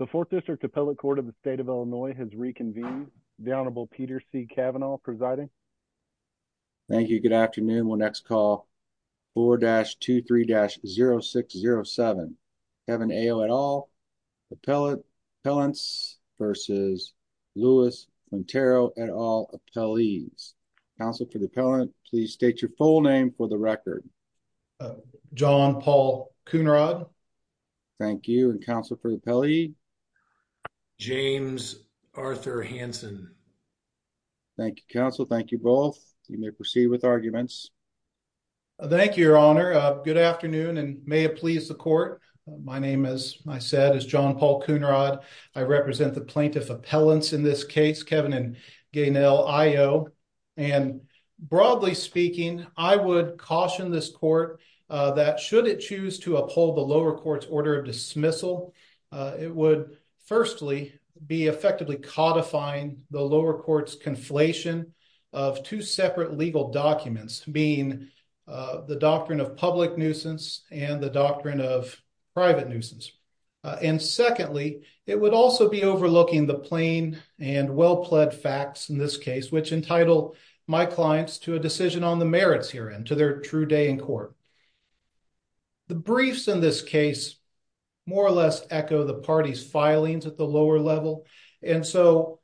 The 4th District Appellate Court of the State of Illinois has reconvened. The Honorable Peter C. Kavanaugh presiding. Thank you. Good afternoon. We'll next call 4-23-0607. Kevin Ayo et al. Appellants v. Louis Quintero et al. Appellees. Counsel for the appellant, please state your full name for the record. John Paul Cunarod. Thank you. Counsel for the appellee. James Arthur Hanson. Thank you, Counsel. Thank you both. You may proceed with arguments. Thank you, Your Honor. Good afternoon and may it please the court. My name, as I said, is John Paul Cunarod. I represent the plaintiff appellants in this case, Kevin and Gaynelle Ayo. And broadly speaking, I would caution this court that should it choose to uphold the lower court's order of dismissal, it would firstly be effectively codifying the lower court's conflation of two separate legal documents being the doctrine of public nuisance and the doctrine of private nuisance. And secondly, it would also be overlooking the plain and well-pled facts in this case, which entitle my clients to a decision on the merits here and to their true day in court. The briefs in this case more or less echo the party's filings at the lower level. And so,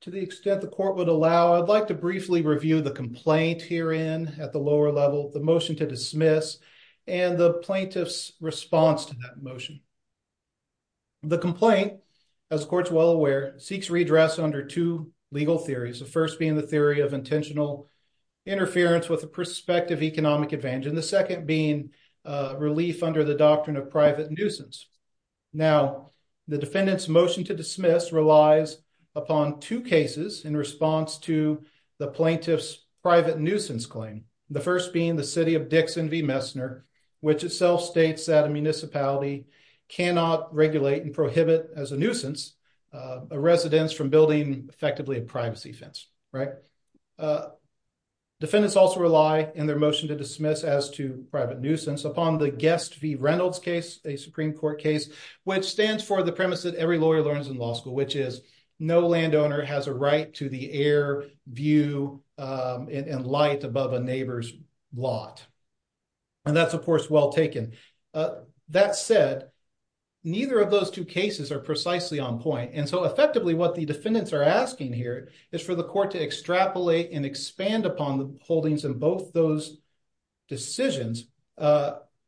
to the extent the court would allow, I'd like to briefly review the complaint here in at the lower level, the motion to dismiss and the plaintiff's response to that motion. The complaint, as the court's well aware, seeks redress under two legal theories. The first being the theory of intentional interference with the prospective economic advantage and the second being relief under the doctrine of private nuisance. Now, the defendant's motion to dismiss relies upon two cases in response to the plaintiff's private nuisance claim. The first being the City of Dixon v. Messner, which itself states that a municipality cannot regulate and prohibit as a nuisance a residence from building effectively a privacy fence, right? Defendants also rely in their motion to dismiss as to private nuisance upon the Guest v. Reynolds case, a Supreme Court case, which stands for the premise that every lawyer learns in law school, which is no landowner has a right to the air, view, and light above a neighbor's lot. And that's, of course, well taken. That said, neither of those two cases are precisely on point. And so, effectively, what the defendants are asking here is for the court to extrapolate and expand upon the holdings in both those decisions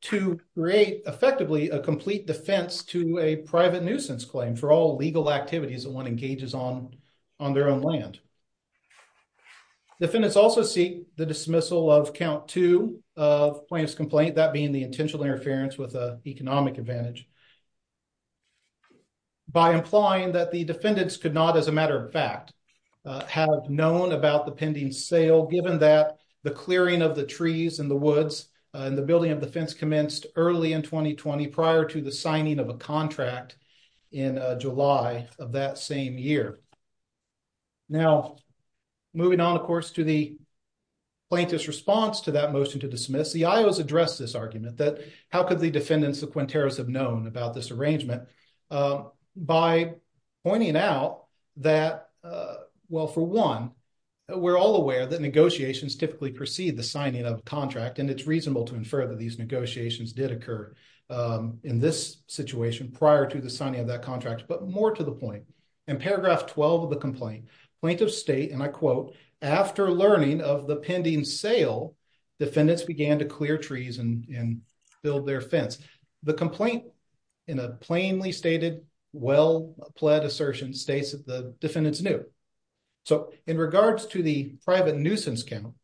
to create, effectively, a complete defense to a private nuisance claim for all legal activities that one engages on on their own land. Defendants also seek the dismissal of count two of plaintiff's complaint, that being the intentional interference with a economic advantage, by implying that the defendants could not, as a matter of fact, have known about the pending sale given that the clearing of the trees and the woods in the building of the fence commenced early in 2020 prior to the signing of a contract in July of that same year. Now, moving on, of course, to the plaintiff's response to that motion to dismiss, the Iowa's addressed this argument that how could the defendants of Quinteros have known about this arrangement by pointing out that, well, for one, we're all aware that negotiations typically precede the signing of a contract, and it's reasonable to infer that these negotiations did occur in this situation prior to the signing of that contract, but more to the point. In paragraph 12 of the complaint, plaintiffs state, and I quote, after learning of the pending sale, defendants began to clear trees and build their fence. The complaint, in a plainly stated, well-pled assertion, states that the defendants knew. So, in regards to the private nuisance count,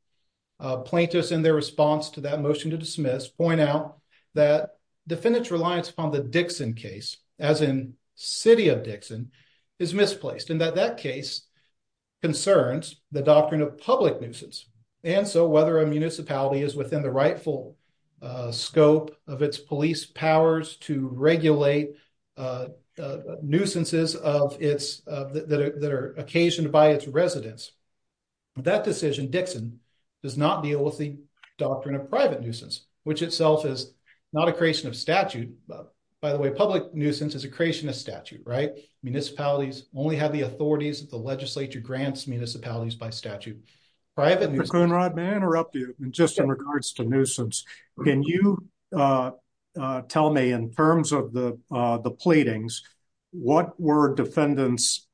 plaintiffs, in their response to that motion to dismiss, point out that defendants' reliance upon the Dixon case, as in city of Dixon, is misplaced, and that that case concerns the doctrine of public nuisance, and so whether a municipality is within the rightful scope of its police powers to regulate nuisances that are occasioned by its residents, that decision, Dixon, does not deal with the doctrine of private nuisance, which itself is not a creation of statute. By the way, public nuisance is a creation of statute, right? Municipalities only have the authorities that the legislature grants municipalities by nuisance. Can you tell me, in terms of the pleadings, what were defendants'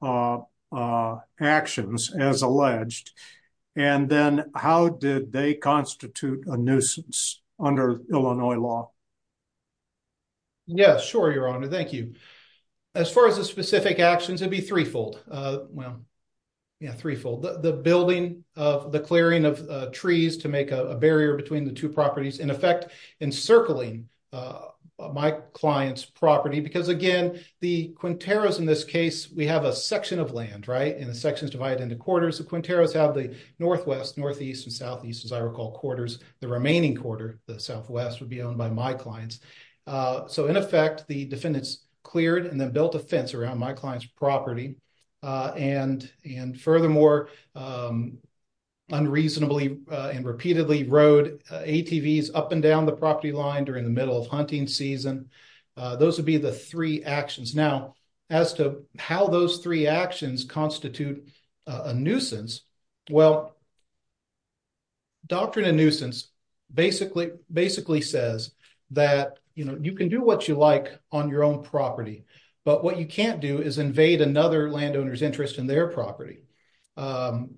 actions as alleged, and then how did they constitute a nuisance under Illinois law? Yes, sure, your honor. Thank you. As far as the specific actions, it'd be threefold. Well, yeah, in effect, encircling my client's property, because again, the Quinteros, in this case, we have a section of land, right? And the section is divided into quarters. The Quinteros have the northwest, northeast, and southeast, as I recall, quarters. The remaining quarter, the southwest, would be owned by my clients. So in effect, the defendants cleared and then built a fence around my client's property, and furthermore, unreasonably and repeatedly rode ATVs up and down the property line during the middle of hunting season. Those would be the three actions. Now, as to how those three actions constitute a nuisance, well, doctrine of nuisance basically says that you can do what you like on your own property, but what you can't do is invade another landowner's interest in their property,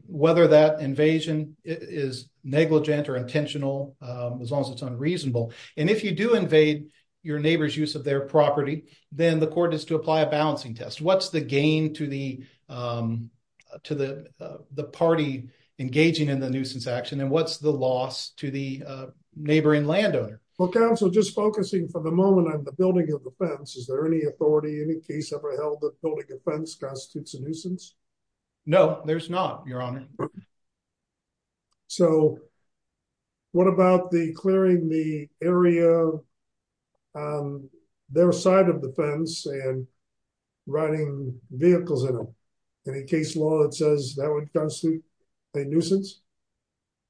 whether that invasion is negligent or intentional, as long as it's unreasonable. And if you do invade your neighbor's use of their property, then the court is to apply a balancing test. What's the gain to the party engaging in the Well, counsel, just focusing for the moment on the building of the fence, is there any authority, any case ever held that building a fence constitutes a nuisance? No, there's not, your honor. So what about the clearing the area, their side of the fence and riding vehicles in it? Any case law that says that would constitute a nuisance?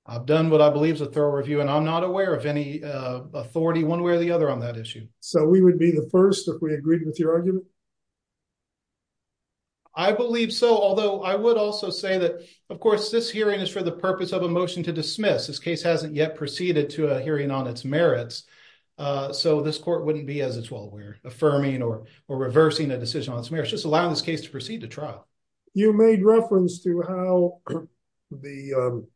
I've done what I believe is a thorough review, and I'm not aware of any authority one way or the other on that issue. So we would be the first if we agreed with your argument? I believe so, although I would also say that, of course, this hearing is for the purpose of a motion to dismiss. This case hasn't yet proceeded to a hearing on its merits, so this court wouldn't be as it's well aware, affirming or reversing a decision on its merits, just allowing this case to proceed to trial. You made reference to how the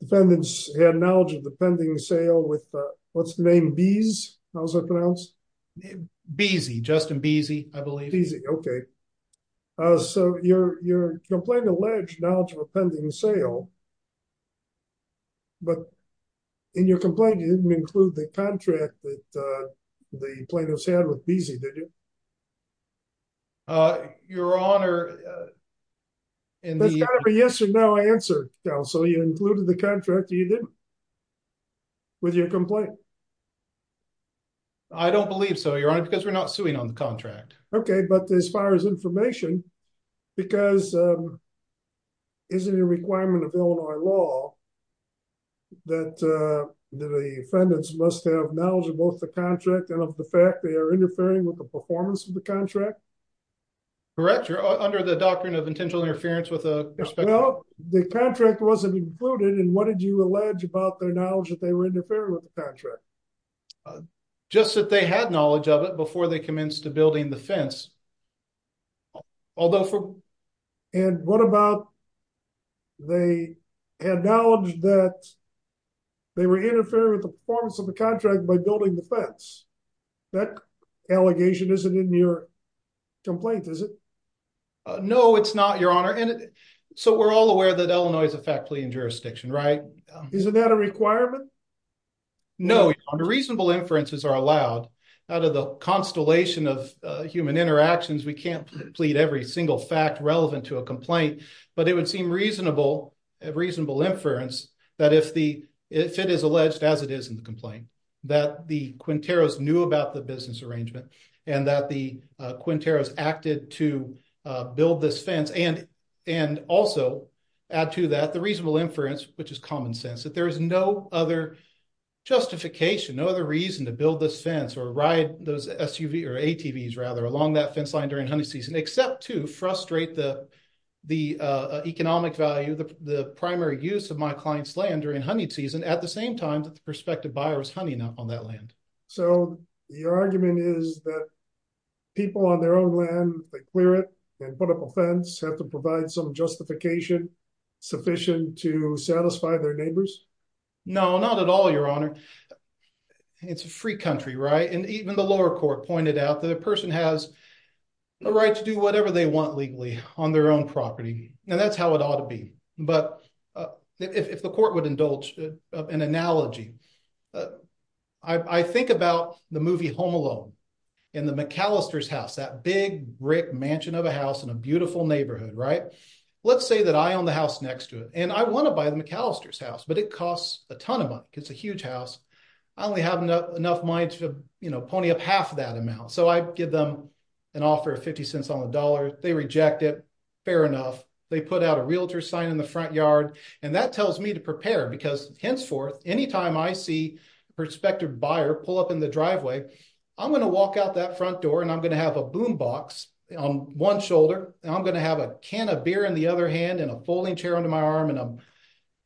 defendants had knowledge of the pending sale with, what's the name, Beese, how's that pronounced? Beese, Justin Beese, I believe. Beese, okay. So your complaint alleged knowledge of a pending sale, but in your complaint, you didn't include the contract that the plaintiffs had with Beese, did you? Your Honor, in the- There's got to be yes or no answer, counsel. You included the contract, or you didn't, with your complaint? I don't believe so, Your Honor, because we're not suing on the contract. Okay, but as far as information, because isn't it a requirement of Illinois law that the defendants must have knowledge of both the contract and of the fact they are interfering with the performance of the contract? Correct, Your Honor, under the doctrine of intentional interference with the perspective- Well, the contract wasn't included, and what did you allege about their knowledge that they were interfering with the contract? Just that they had knowledge of it before they commenced to building the fence. Although for- And what about they had knowledge that they were interfering with the performance of the fence? That allegation isn't in your complaint, is it? No, it's not, Your Honor, and so we're all aware that Illinois is a fact-pleading jurisdiction, right? Isn't that a requirement? No, Your Honor. Reasonable inferences are allowed. Out of the constellation of human interactions, we can't plead every single fact relevant to a complaint, but it would seem reasonable inference that if it is alleged, as it is in the complaint, that the Quinteros knew about the business arrangement and that the Quinteros acted to build this fence and also add to that the reasonable inference, which is common sense, that there is no other justification, no other reason to build this fence or ride those SUVs, or ATVs, rather, along that fence line during honey season except to frustrate the economic value, the primary use of my client's land during honey season at the same time that the buyer was hunting up on that land. So, your argument is that people on their own land, they clear it and put up a fence, have to provide some justification sufficient to satisfy their neighbors? No, not at all, Your Honor. It's a free country, right? And even the lower court pointed out that a person has a right to do whatever they want legally on their own property, and that's how it ought to be. But if the court would indulge an analogy, I think about the movie Home Alone in the McAllister's house, that big brick mansion of a house in a beautiful neighborhood, right? Let's say that I own the house next to it, and I want to buy the McAllister's house, but it costs a ton of money. It's a huge house. I only have enough money to pony up half of that amount. So, I give them an offer of 50 cents on the dollar. They reject it. Fair enough. They put out a realtor sign in the front yard, and that tells me to prepare because henceforth, anytime I see a prospective buyer pull up in the driveway, I'm going to walk out that front door, and I'm going to have a boom box on one shoulder, and I'm going to have a can of beer in the other hand and a folding chair under my arm, and I'm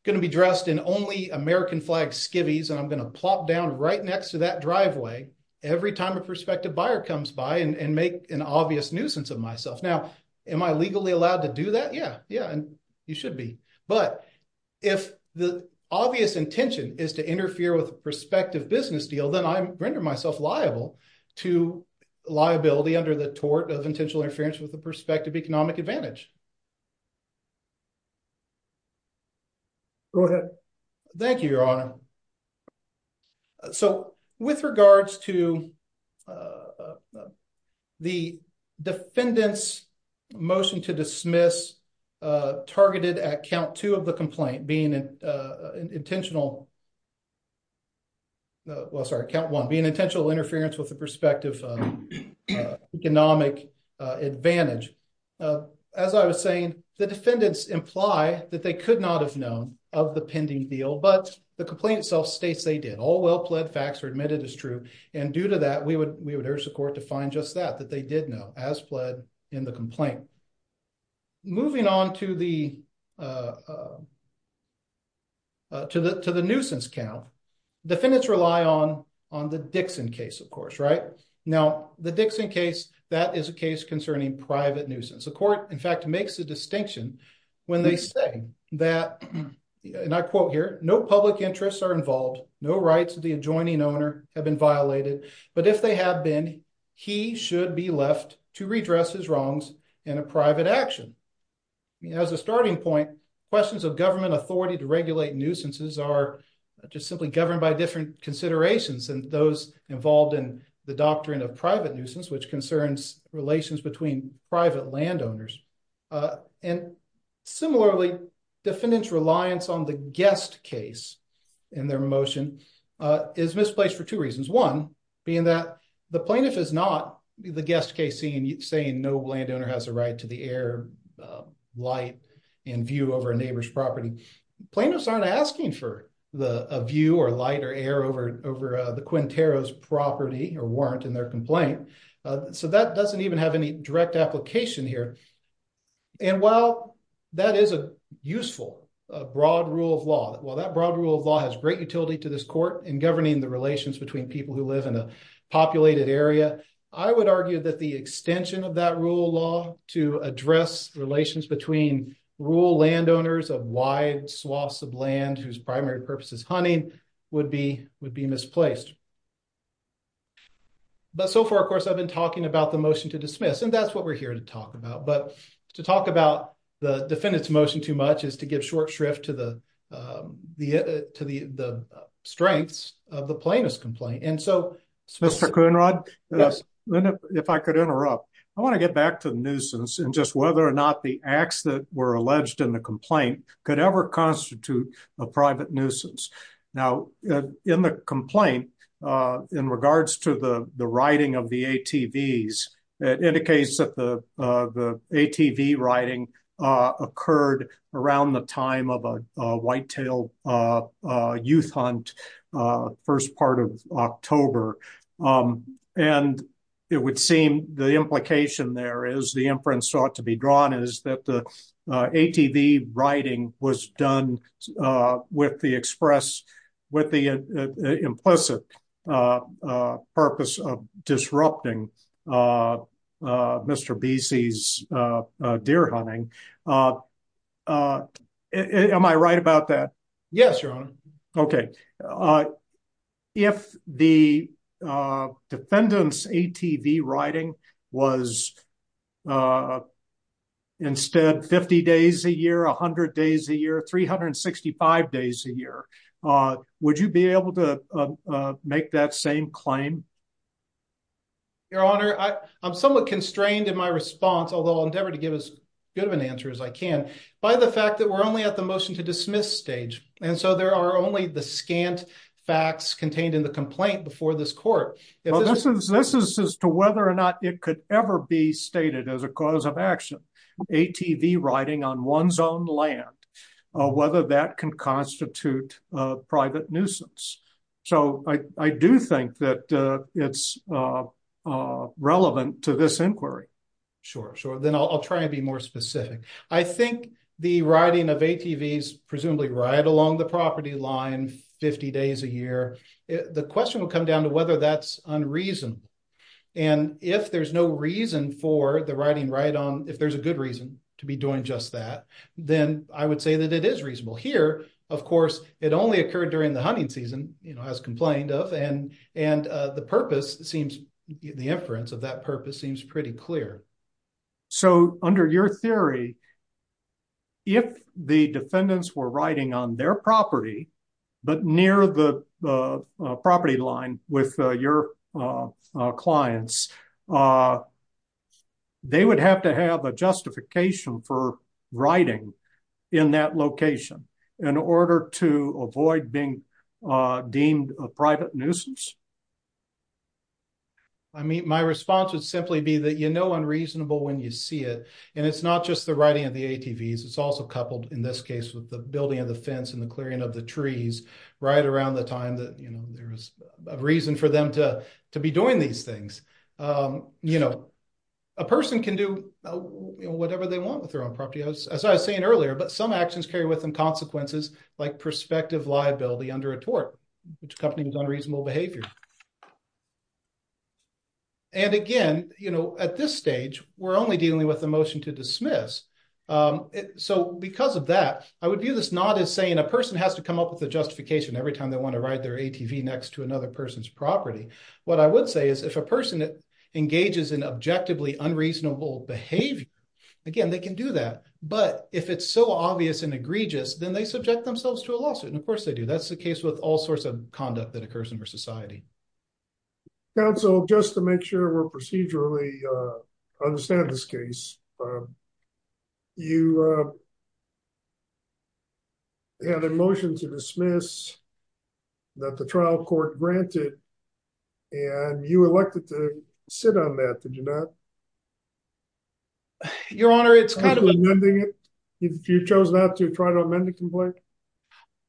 going to be dressed in only American flag skivvies, and I'm going to plop down right next to that driveway every time a prospective buyer comes by and make an obvious nuisance of myself. Now, am I legally allowed to do that? Yeah, yeah, and you should be, but if the obvious intention is to interfere with a prospective business deal, then I render myself liable to liability under the tort of intentional interference with the prospective economic advantage. Go ahead. Thank you, Your Honor. All right. So with regards to the defendant's motion to dismiss targeted at count two of the complaint being intentional, well, sorry, count one, being intentional interference with the prospective economic advantage, as I was saying, the defendants imply that they could not have of the pending deal, but the complaint itself states they did. All well-pled facts are admitted as true, and due to that, we would urge the court to find just that, that they did know as pled in the complaint. Moving on to the nuisance count, defendants rely on the Dixon case, of course, right? Now, the Dixon case, that is a case concerning private nuisance. The court, in fact, makes a distinction when they say that, and I quote here, no public interests are involved, no rights of the adjoining owner have been violated, but if they have been, he should be left to redress his wrongs in a private action. As a starting point, questions of government authority to regulate nuisances are just simply governed by different considerations than those involved in the doctrine of private nuisance, which concerns relations between private landowners, and similarly, defendants' reliance on the guest case in their motion is misplaced for two reasons. One being that the plaintiff is not the guest case saying no landowner has a right to the air, light, and view over a neighbor's property. Plaintiffs aren't asking for a view or light or air over the Quintero's property or in their complaint, so that doesn't even have any direct application here, and while that is a useful broad rule of law, while that broad rule of law has great utility to this court in governing the relations between people who live in a populated area, I would argue that the extension of that rule of law to address relations between rural landowners of wide swaths of land whose so far, of course, I've been talking about the motion to dismiss, and that's what we're here to talk about, but to talk about the defendant's motion too much is to give short shrift to the strengths of the plaintiff's complaint, and so... Mr. Coonrod, if I could interrupt, I want to get back to the nuisance and just whether or not the acts that were alleged in the complaint could ever be used to justify the writing of the ATVs. It indicates that the ATV writing occurred around the time of a whitetail youth hunt, first part of October, and it would seem the implication there is the inference sought to be drawn is that the ATV writing was done with the implicit purpose of disrupting Mr. Besey's deer hunting. Am I right about that? Yes, Your Honor. Okay. If the defendant's ATV writing was instead 50 days a year, 100 days a year, 365 days a year, would you be able to make that same claim? Your Honor, I'm somewhat constrained in my response, although I'll endeavor to give as good of an answer as I can, by the fact that we're only at the motion to dismiss stage, and so there are only the scant facts contained in the complaint before this court. This is as to whether or not it could ever be stated as a cause of action, ATV writing on one's own land, whether that can constitute a private nuisance. So I do think that it's relevant to this inquiry. Sure, sure. Then I'll try and be more specific. I think the writing of ATVs, presumably right along the property line, 50 days a year, the question will come down to whether that's unreasonable, and if there's no reason for the writing right on, if there's a good reason to be doing just that, then I would say that it is reasonable. Here, of course, it only occurred during the hunting season, as complained of, and the purpose seems, the inference of that purpose seems pretty clear. So under your theory, if the defendants were writing on their property, but near the property line with your clients, they would have to have a justification for writing in that location in order to avoid being deemed a private nuisance? I mean, my response would simply be that you know unreasonable when you see it, and it's not just the writing of the ATVs. It's also coupled, in this case, with the building of the fence and the clearing of the trees right around the time that there is a reason for them to be doing these things. A person can do whatever they want with their own property, as I was saying earlier, but some actions carry with them consequences like prospective liability under a tort, which accompanies unreasonable behavior. And again, at this stage, we're only dealing with the motion to dismiss. So because of that, I would view this not as saying a person has to come up with a justification every time they want to ride their ATV next to another person's property. What I would say is, if a person engages in objectively unreasonable behavior, again, they can do that, but if it's so obvious and egregious, then they subject themselves to a lawsuit, and of course they do. That's the case with all sorts of conduct that occurs in our society. Counsel, just to make sure we're clear, you had a motion to dismiss that the trial court granted, and you elected to sit on that, did you not? Your Honor, it's kind of a... You chose not to try to amend the complaint?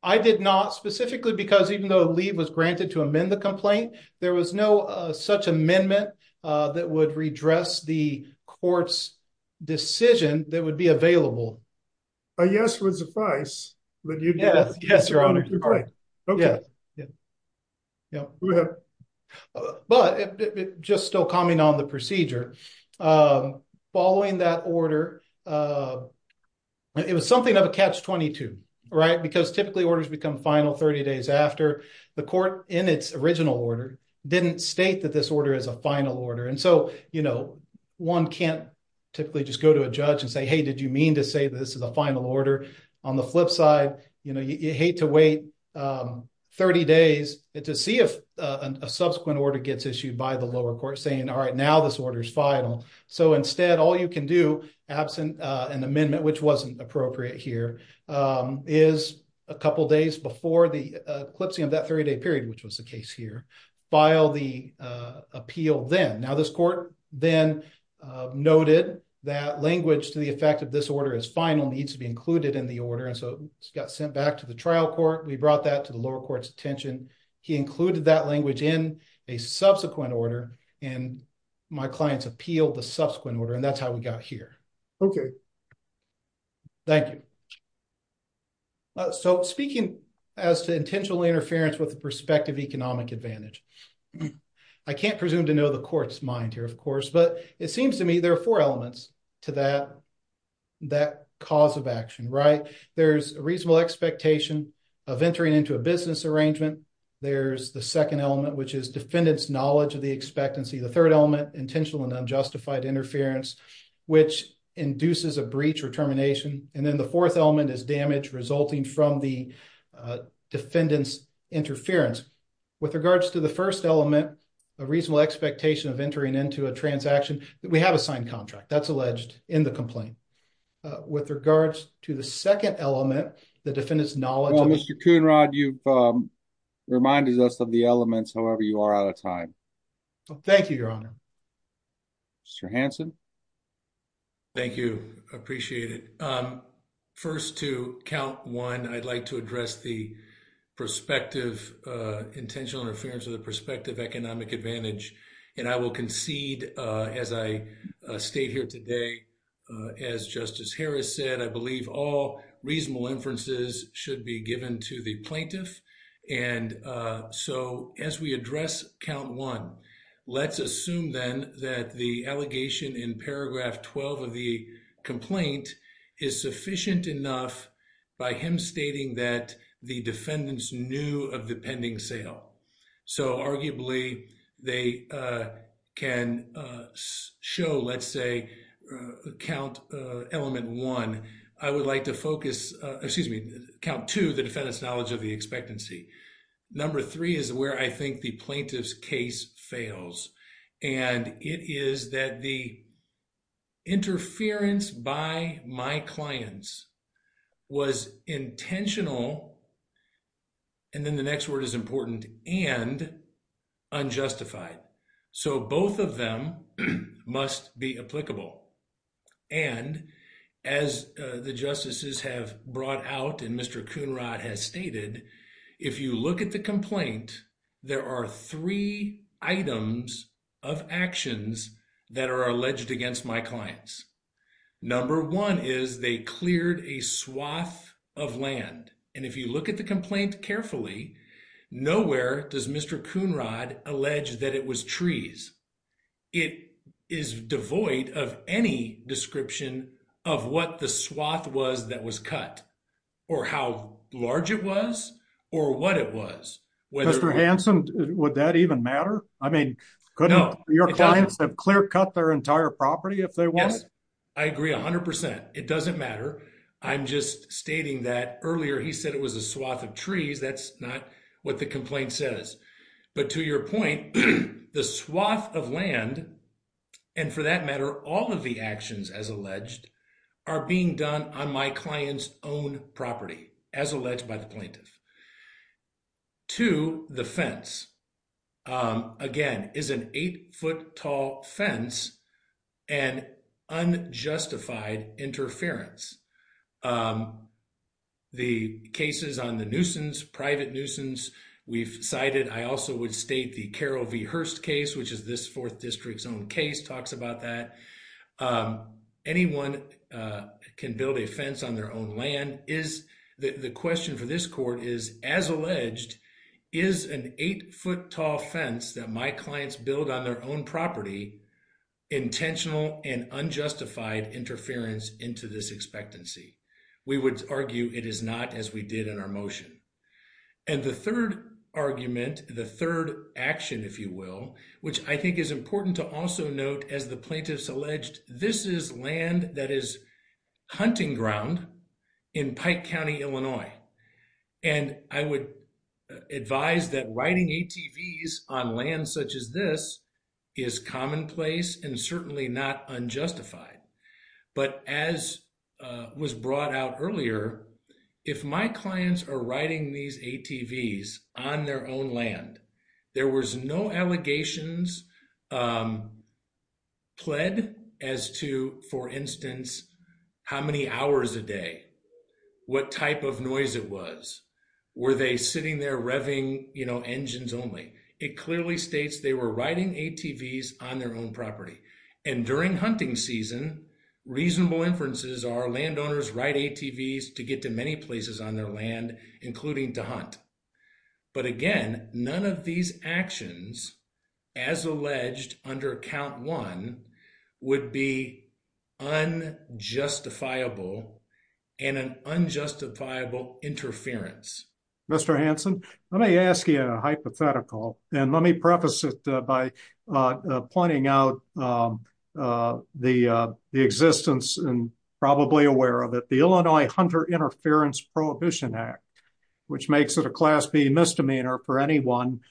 I did not, specifically because even though a leave was granted to amend the complaint, there was no such amendment that would redress the court's decision that would be available. A yes would suffice, but you didn't. Yes, Your Honor. You're correct. Okay. But just still commenting on the procedure, following that order, it was something of a catch-22, right? Because typically orders become final 30 days after the court, in its original order, didn't state that this order is a final order. And so, one can't typically just go to a judge and say, hey, did you mean to say that this is a final order? On the flip side, you hate to wait 30 days to see if a subsequent order gets issued by the lower court saying, all right, now this order's final. So instead, all you can do, absent an appropriate here, is a couple of days before the eclipsing of that 30-day period, which was the case here, file the appeal then. Now, this court then noted that language to the effect of this order as final needs to be included in the order. And so, it got sent back to the trial court. We brought that to the lower court's attention. He included that language in a subsequent order, and my clients appealed the subsequent order, and that's how we got here. Okay. Thank you. So, speaking as to intentional interference with the perspective economic advantage, I can't presume to know the court's mind here, of course, but it seems to me there are four elements to that cause of action, right? There's a reasonable expectation of entering into a business arrangement. There's the second element, which is defendant's knowledge of expectancy. The third element, intentional and unjustified interference, which induces a breach or termination. And then the fourth element is damage resulting from the defendant's interference. With regards to the first element, a reasonable expectation of entering into a transaction, we have a signed contract. That's alleged in the complaint. With regards to the second element, the defendant's knowledge... Well, Mr. Coonrod, you've reminded us of the elements. However, you are out of time. Thank you, Your Honor. Mr. Hanson? Thank you. I appreciate it. First, to count one, I'd like to address the perspective, intentional interference with the perspective economic advantage. And I will concede, as I stayed here today, as Justice Harris said, I believe all reasonable inferences should be given to the plaintiff. And so as we address count one, let's assume then that the allegation in paragraph 12 of the complaint is sufficient enough by him stating that the defendants knew of the pending sale. So arguably, they can show, let's say, count element one, I would like to focus... Excuse me, count two, the defendant's knowledge of the expectancy. Number three is where I think the plaintiff's case fails. And it is that the interference by my clients was intentional, and then the next word is important, and unjustified. So both of them must be applicable. And as the justices have brought out, and Mr. Coonrod has stated, if you look at the complaint, there are three items of actions that are alleged against my clients. Number one is they cleared a swath of land. And if you look at the complaint carefully, nowhere does Mr. Coonrod allege that it was trees. It is devoid of any description of what the swath was that was cut, or how large it was, or what it was. Mr. Hanson, would that even matter? I mean, couldn't your clients have clear cut their entire property if they wanted? Yes, I agree 100%. It doesn't matter. I'm just stating that earlier, he said it was a swath of trees. That's not what the complaint says. But to your point, the swath of land, and for that matter, all of the actions as alleged, are being done on my client's own property, as alleged by the plaintiff. Number two, the fence. Again, is an eight-foot tall fence an unjustified interference? The cases on the nuisance, private nuisance, we've cited. I also would state the Carroll v. Hurst case, which is this fourth district's own case, talks about that. Anyone can build a fence on their own land. The question for this court is, as alleged, is an eight-foot tall fence that my clients build on their own property intentional and unjustified interference into this expectancy? We would argue it is not, as we did in our motion. And the third argument, the third action, if you will, which I think is important to also note, as the plaintiffs alleged, this is land that is hunting ground in Pike County, Illinois. And I would advise that writing ATVs on land such as this is commonplace and certainly not unjustified. But as was brought out earlier, if my clients are allegations pled as to, for instance, how many hours a day, what type of noise it was, were they sitting there revving engines only? It clearly states they were riding ATVs on their own property. And during hunting season, reasonable inferences are landowners ride ATVs to get to many as alleged under count one would be unjustifiable and an unjustifiable interference. Mr. Hanson, let me ask you a hypothetical and let me preface it by pointing out the existence and probably aware of it, the Illinois Hunter Interference Prohibition Act, which makes it a class B misdemeanor for anyone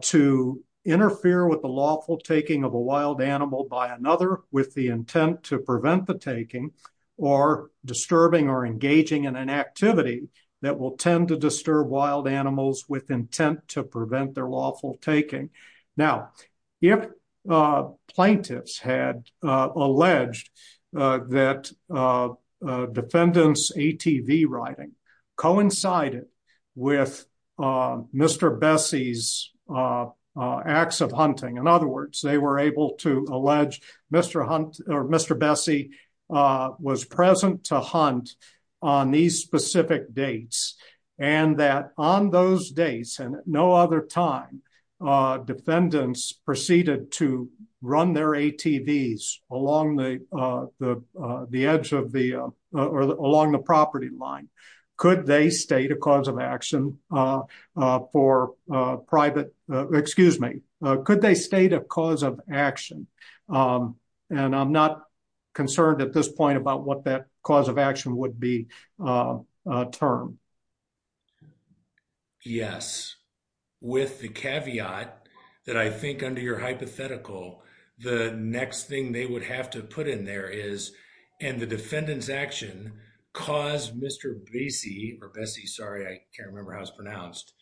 to interfere with the lawful taking of a wild animal by another with the intent to prevent the taking or disturbing or engaging in an activity that will tend to disturb wild animals with intent to prevent their lawful taking. Now, if plaintiffs had alleged that defendants ATV riding coincided with Mr. Bessie's acts of hunting, in other words, they were able to allege Mr. Hunt or Mr. Bessie was present to hunt on these specific dates and that on those days and no other time defendants proceeded to run their ATVs along the property line. Could they state a cause of action for private, excuse me, could they state a cause of action? And I'm not concerned at this point about what that action would be termed. Yes. With the caveat that I think under your hypothetical, the next thing they would have to put in there is, and the defendant's action caused Mr. Bessie or Bessie, sorry, I can't remember how it's pronounced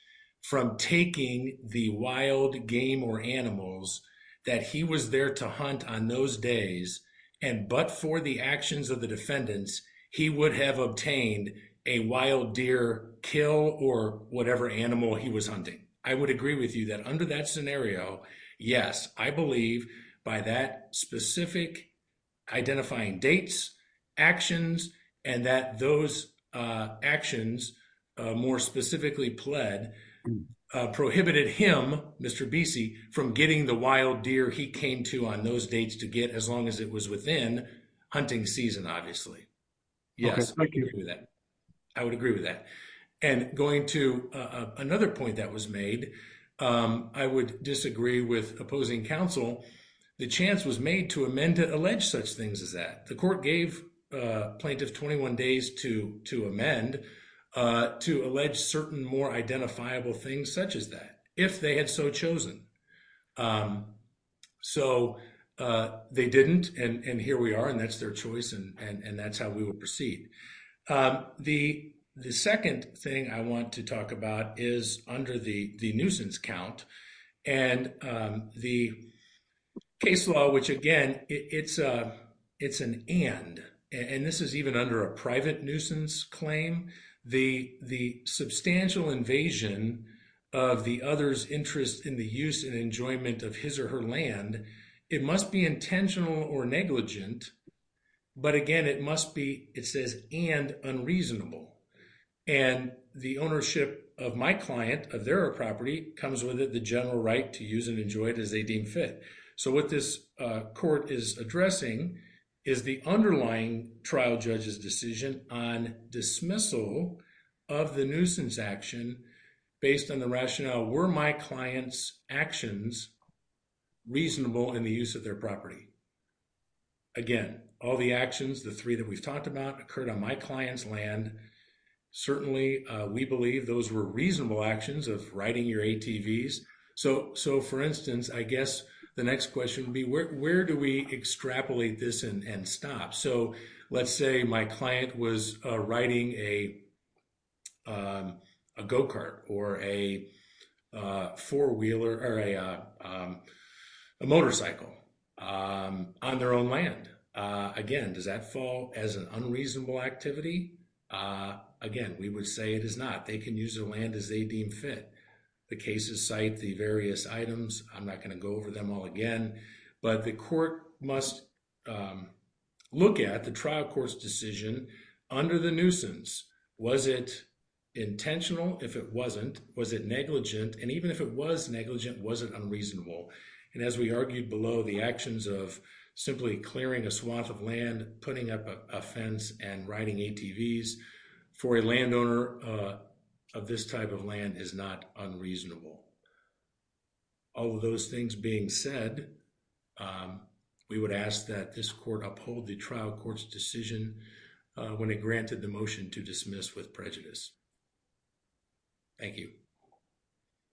from taking the wild game or animals that he was there to hunt on those days. And, but for the actions of the defendants, he would have obtained a wild deer kill or whatever animal he was hunting. I would agree with you that under that scenario, yes, I believe by that specific identifying dates, actions, and that those actions more specifically pled prohibited him, Mr. Bessie from getting the deer he came to on those dates to get as long as it was within hunting season, obviously. Yes. I would agree with that. And going to another point that was made, I would disagree with opposing counsel. The chance was made to amend to allege such things as that the court gave plaintiff 21 days to amend, to allege certain more identifiable things such as that, if they had so chosen. So they didn't, and here we are, and that's their choice, and that's how we will proceed. The second thing I want to talk about is under the nuisance count and the case law, which again, it's an and, and this is even under a private nuisance claim, the substantial invasion of the other's interest in the use and enjoyment of his or her land, it must be intentional or negligent, but again, it must be, it says, and unreasonable. And the ownership of my client of their property comes with it, the general right to use and enjoy it as they deem fit. So what this court is addressing is the underlying trial judge's on dismissal of the nuisance action based on the rationale, were my client's actions reasonable in the use of their property? Again, all the actions, the three that we've talked about occurred on my client's land. Certainly we believe those were reasonable actions of writing your ATVs. So for instance, I guess the next question would be, where do we extrapolate this and stop? So let's say my client was writing a go-kart or a four-wheeler or a motorcycle on their own land. Again, does that fall as an unreasonable activity? Again, we would say it is not. They can use the land as they deem fit. The cases cite the various items. I'm not going to go over them all again, but the court must look at the trial court's decision under the nuisance. Was it intentional? If it wasn't, was it negligent? And even if it was negligent, was it unreasonable? And as we argued below, the actions of simply clearing a swath of land, putting up a fence and writing ATVs for a landowner of this type of land is not unreasonable. All of those things being said, we would ask that this court uphold the trial court's decision when it granted the motion to dismiss with prejudice. Thank you.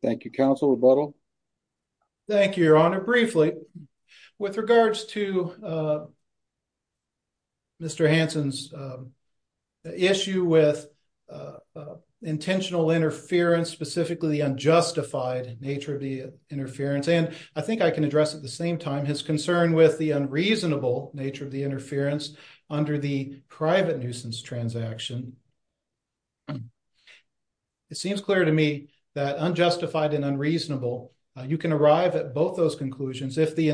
Thank you, Counsel Rebuttal. Thank you, Your Honor. Briefly, with regards to Mr. Hansen's issue with intentional interference, specifically the unjustified nature of the interference, and I can address at the same time his concern with the unreasonable nature of the interference under the private nuisance transaction, it seems clear to me that unjustified and unreasonable, you can arrive at both those conclusions if the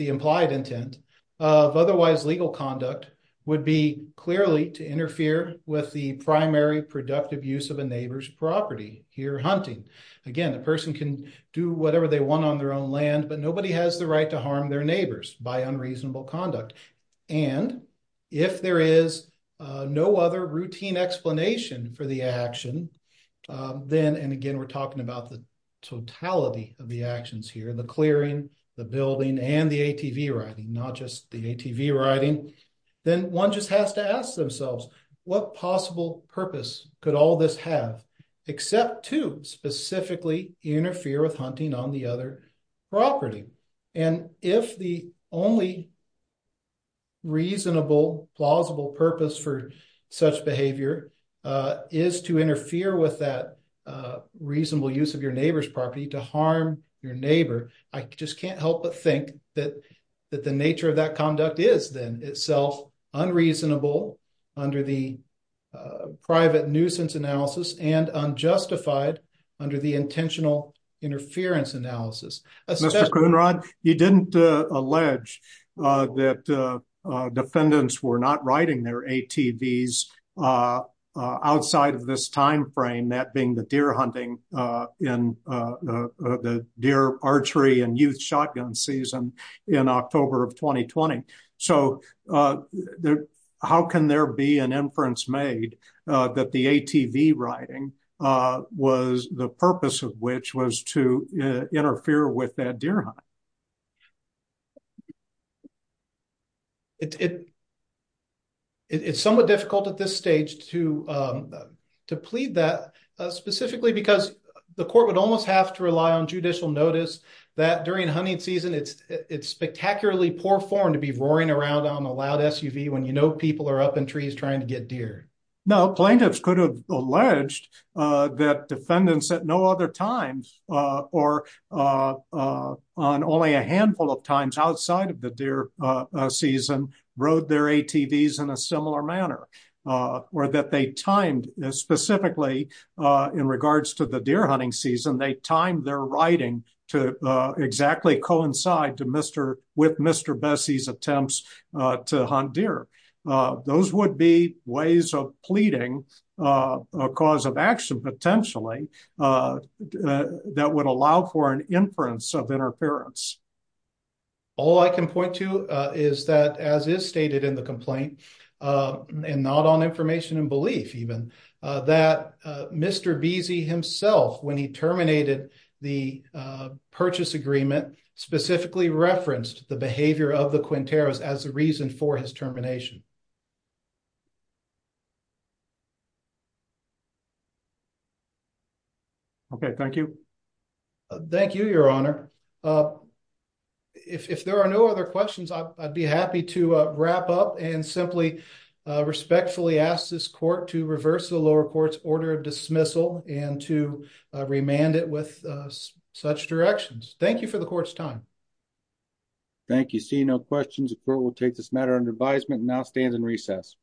implied intent of otherwise legal conduct would be clearly to interfere with the primary productive use of a neighbor's property, here hunting. Again, a person can do whatever they want on their own land, but nobody has the right to harm their neighbors by unreasonable conduct. And if there is no other routine explanation for the action, then, and again, we're talking about the totality of the actions here, the clearing, the building, and the ATV riding, not just the ATV riding, then one just has to specifically interfere with hunting on the other property. And if the only reasonable, plausible purpose for such behavior is to interfere with that reasonable use of your neighbor's property to harm your neighbor, I just can't help but think that the nature of that conduct is then itself unreasonable under the private nuisance analysis and unjustified under the intentional interference analysis. Mr. Coonrod, you didn't allege that defendants were not riding their ATVs outside of this time frame, that being the deer hunting in the deer archery and youth shotgun season in October of 2020. So how can there be an inference made that the ATV riding was the purpose of which was to interfere with that deer hunting? It's somewhat difficult at this stage to plead that specifically because the court would almost have to rely on judicial notice that during hunting season, it's spectacularly poor to be roaring around on a loud SUV when you know people are up in trees trying to get deer. No, plaintiffs could have alleged that defendants at no other times or on only a handful of times outside of the deer season rode their ATVs in a similar manner or that they timed specifically in regards to the deer hunting season, they timed their riding to exactly coincide to Mr. Besey's attempts to hunt deer. Those would be ways of pleading a cause of action potentially that would allow for an inference of interference. All I can point to is that as is stated in the complaint and not on information and belief even, that Mr. Besey himself when he terminated the purchase agreement specifically referenced the behavior of the Quinteros as a reason for his termination. Okay, thank you. Thank you, your honor. If there are no other questions, I'd be happy to wrap up and simply respectfully ask this court to reverse the lower court's order dismissal and to remand it with such directions. Thank you for the court's time. Thank you. Seeing no questions, the court will take this matter under advisement and now stands in recess.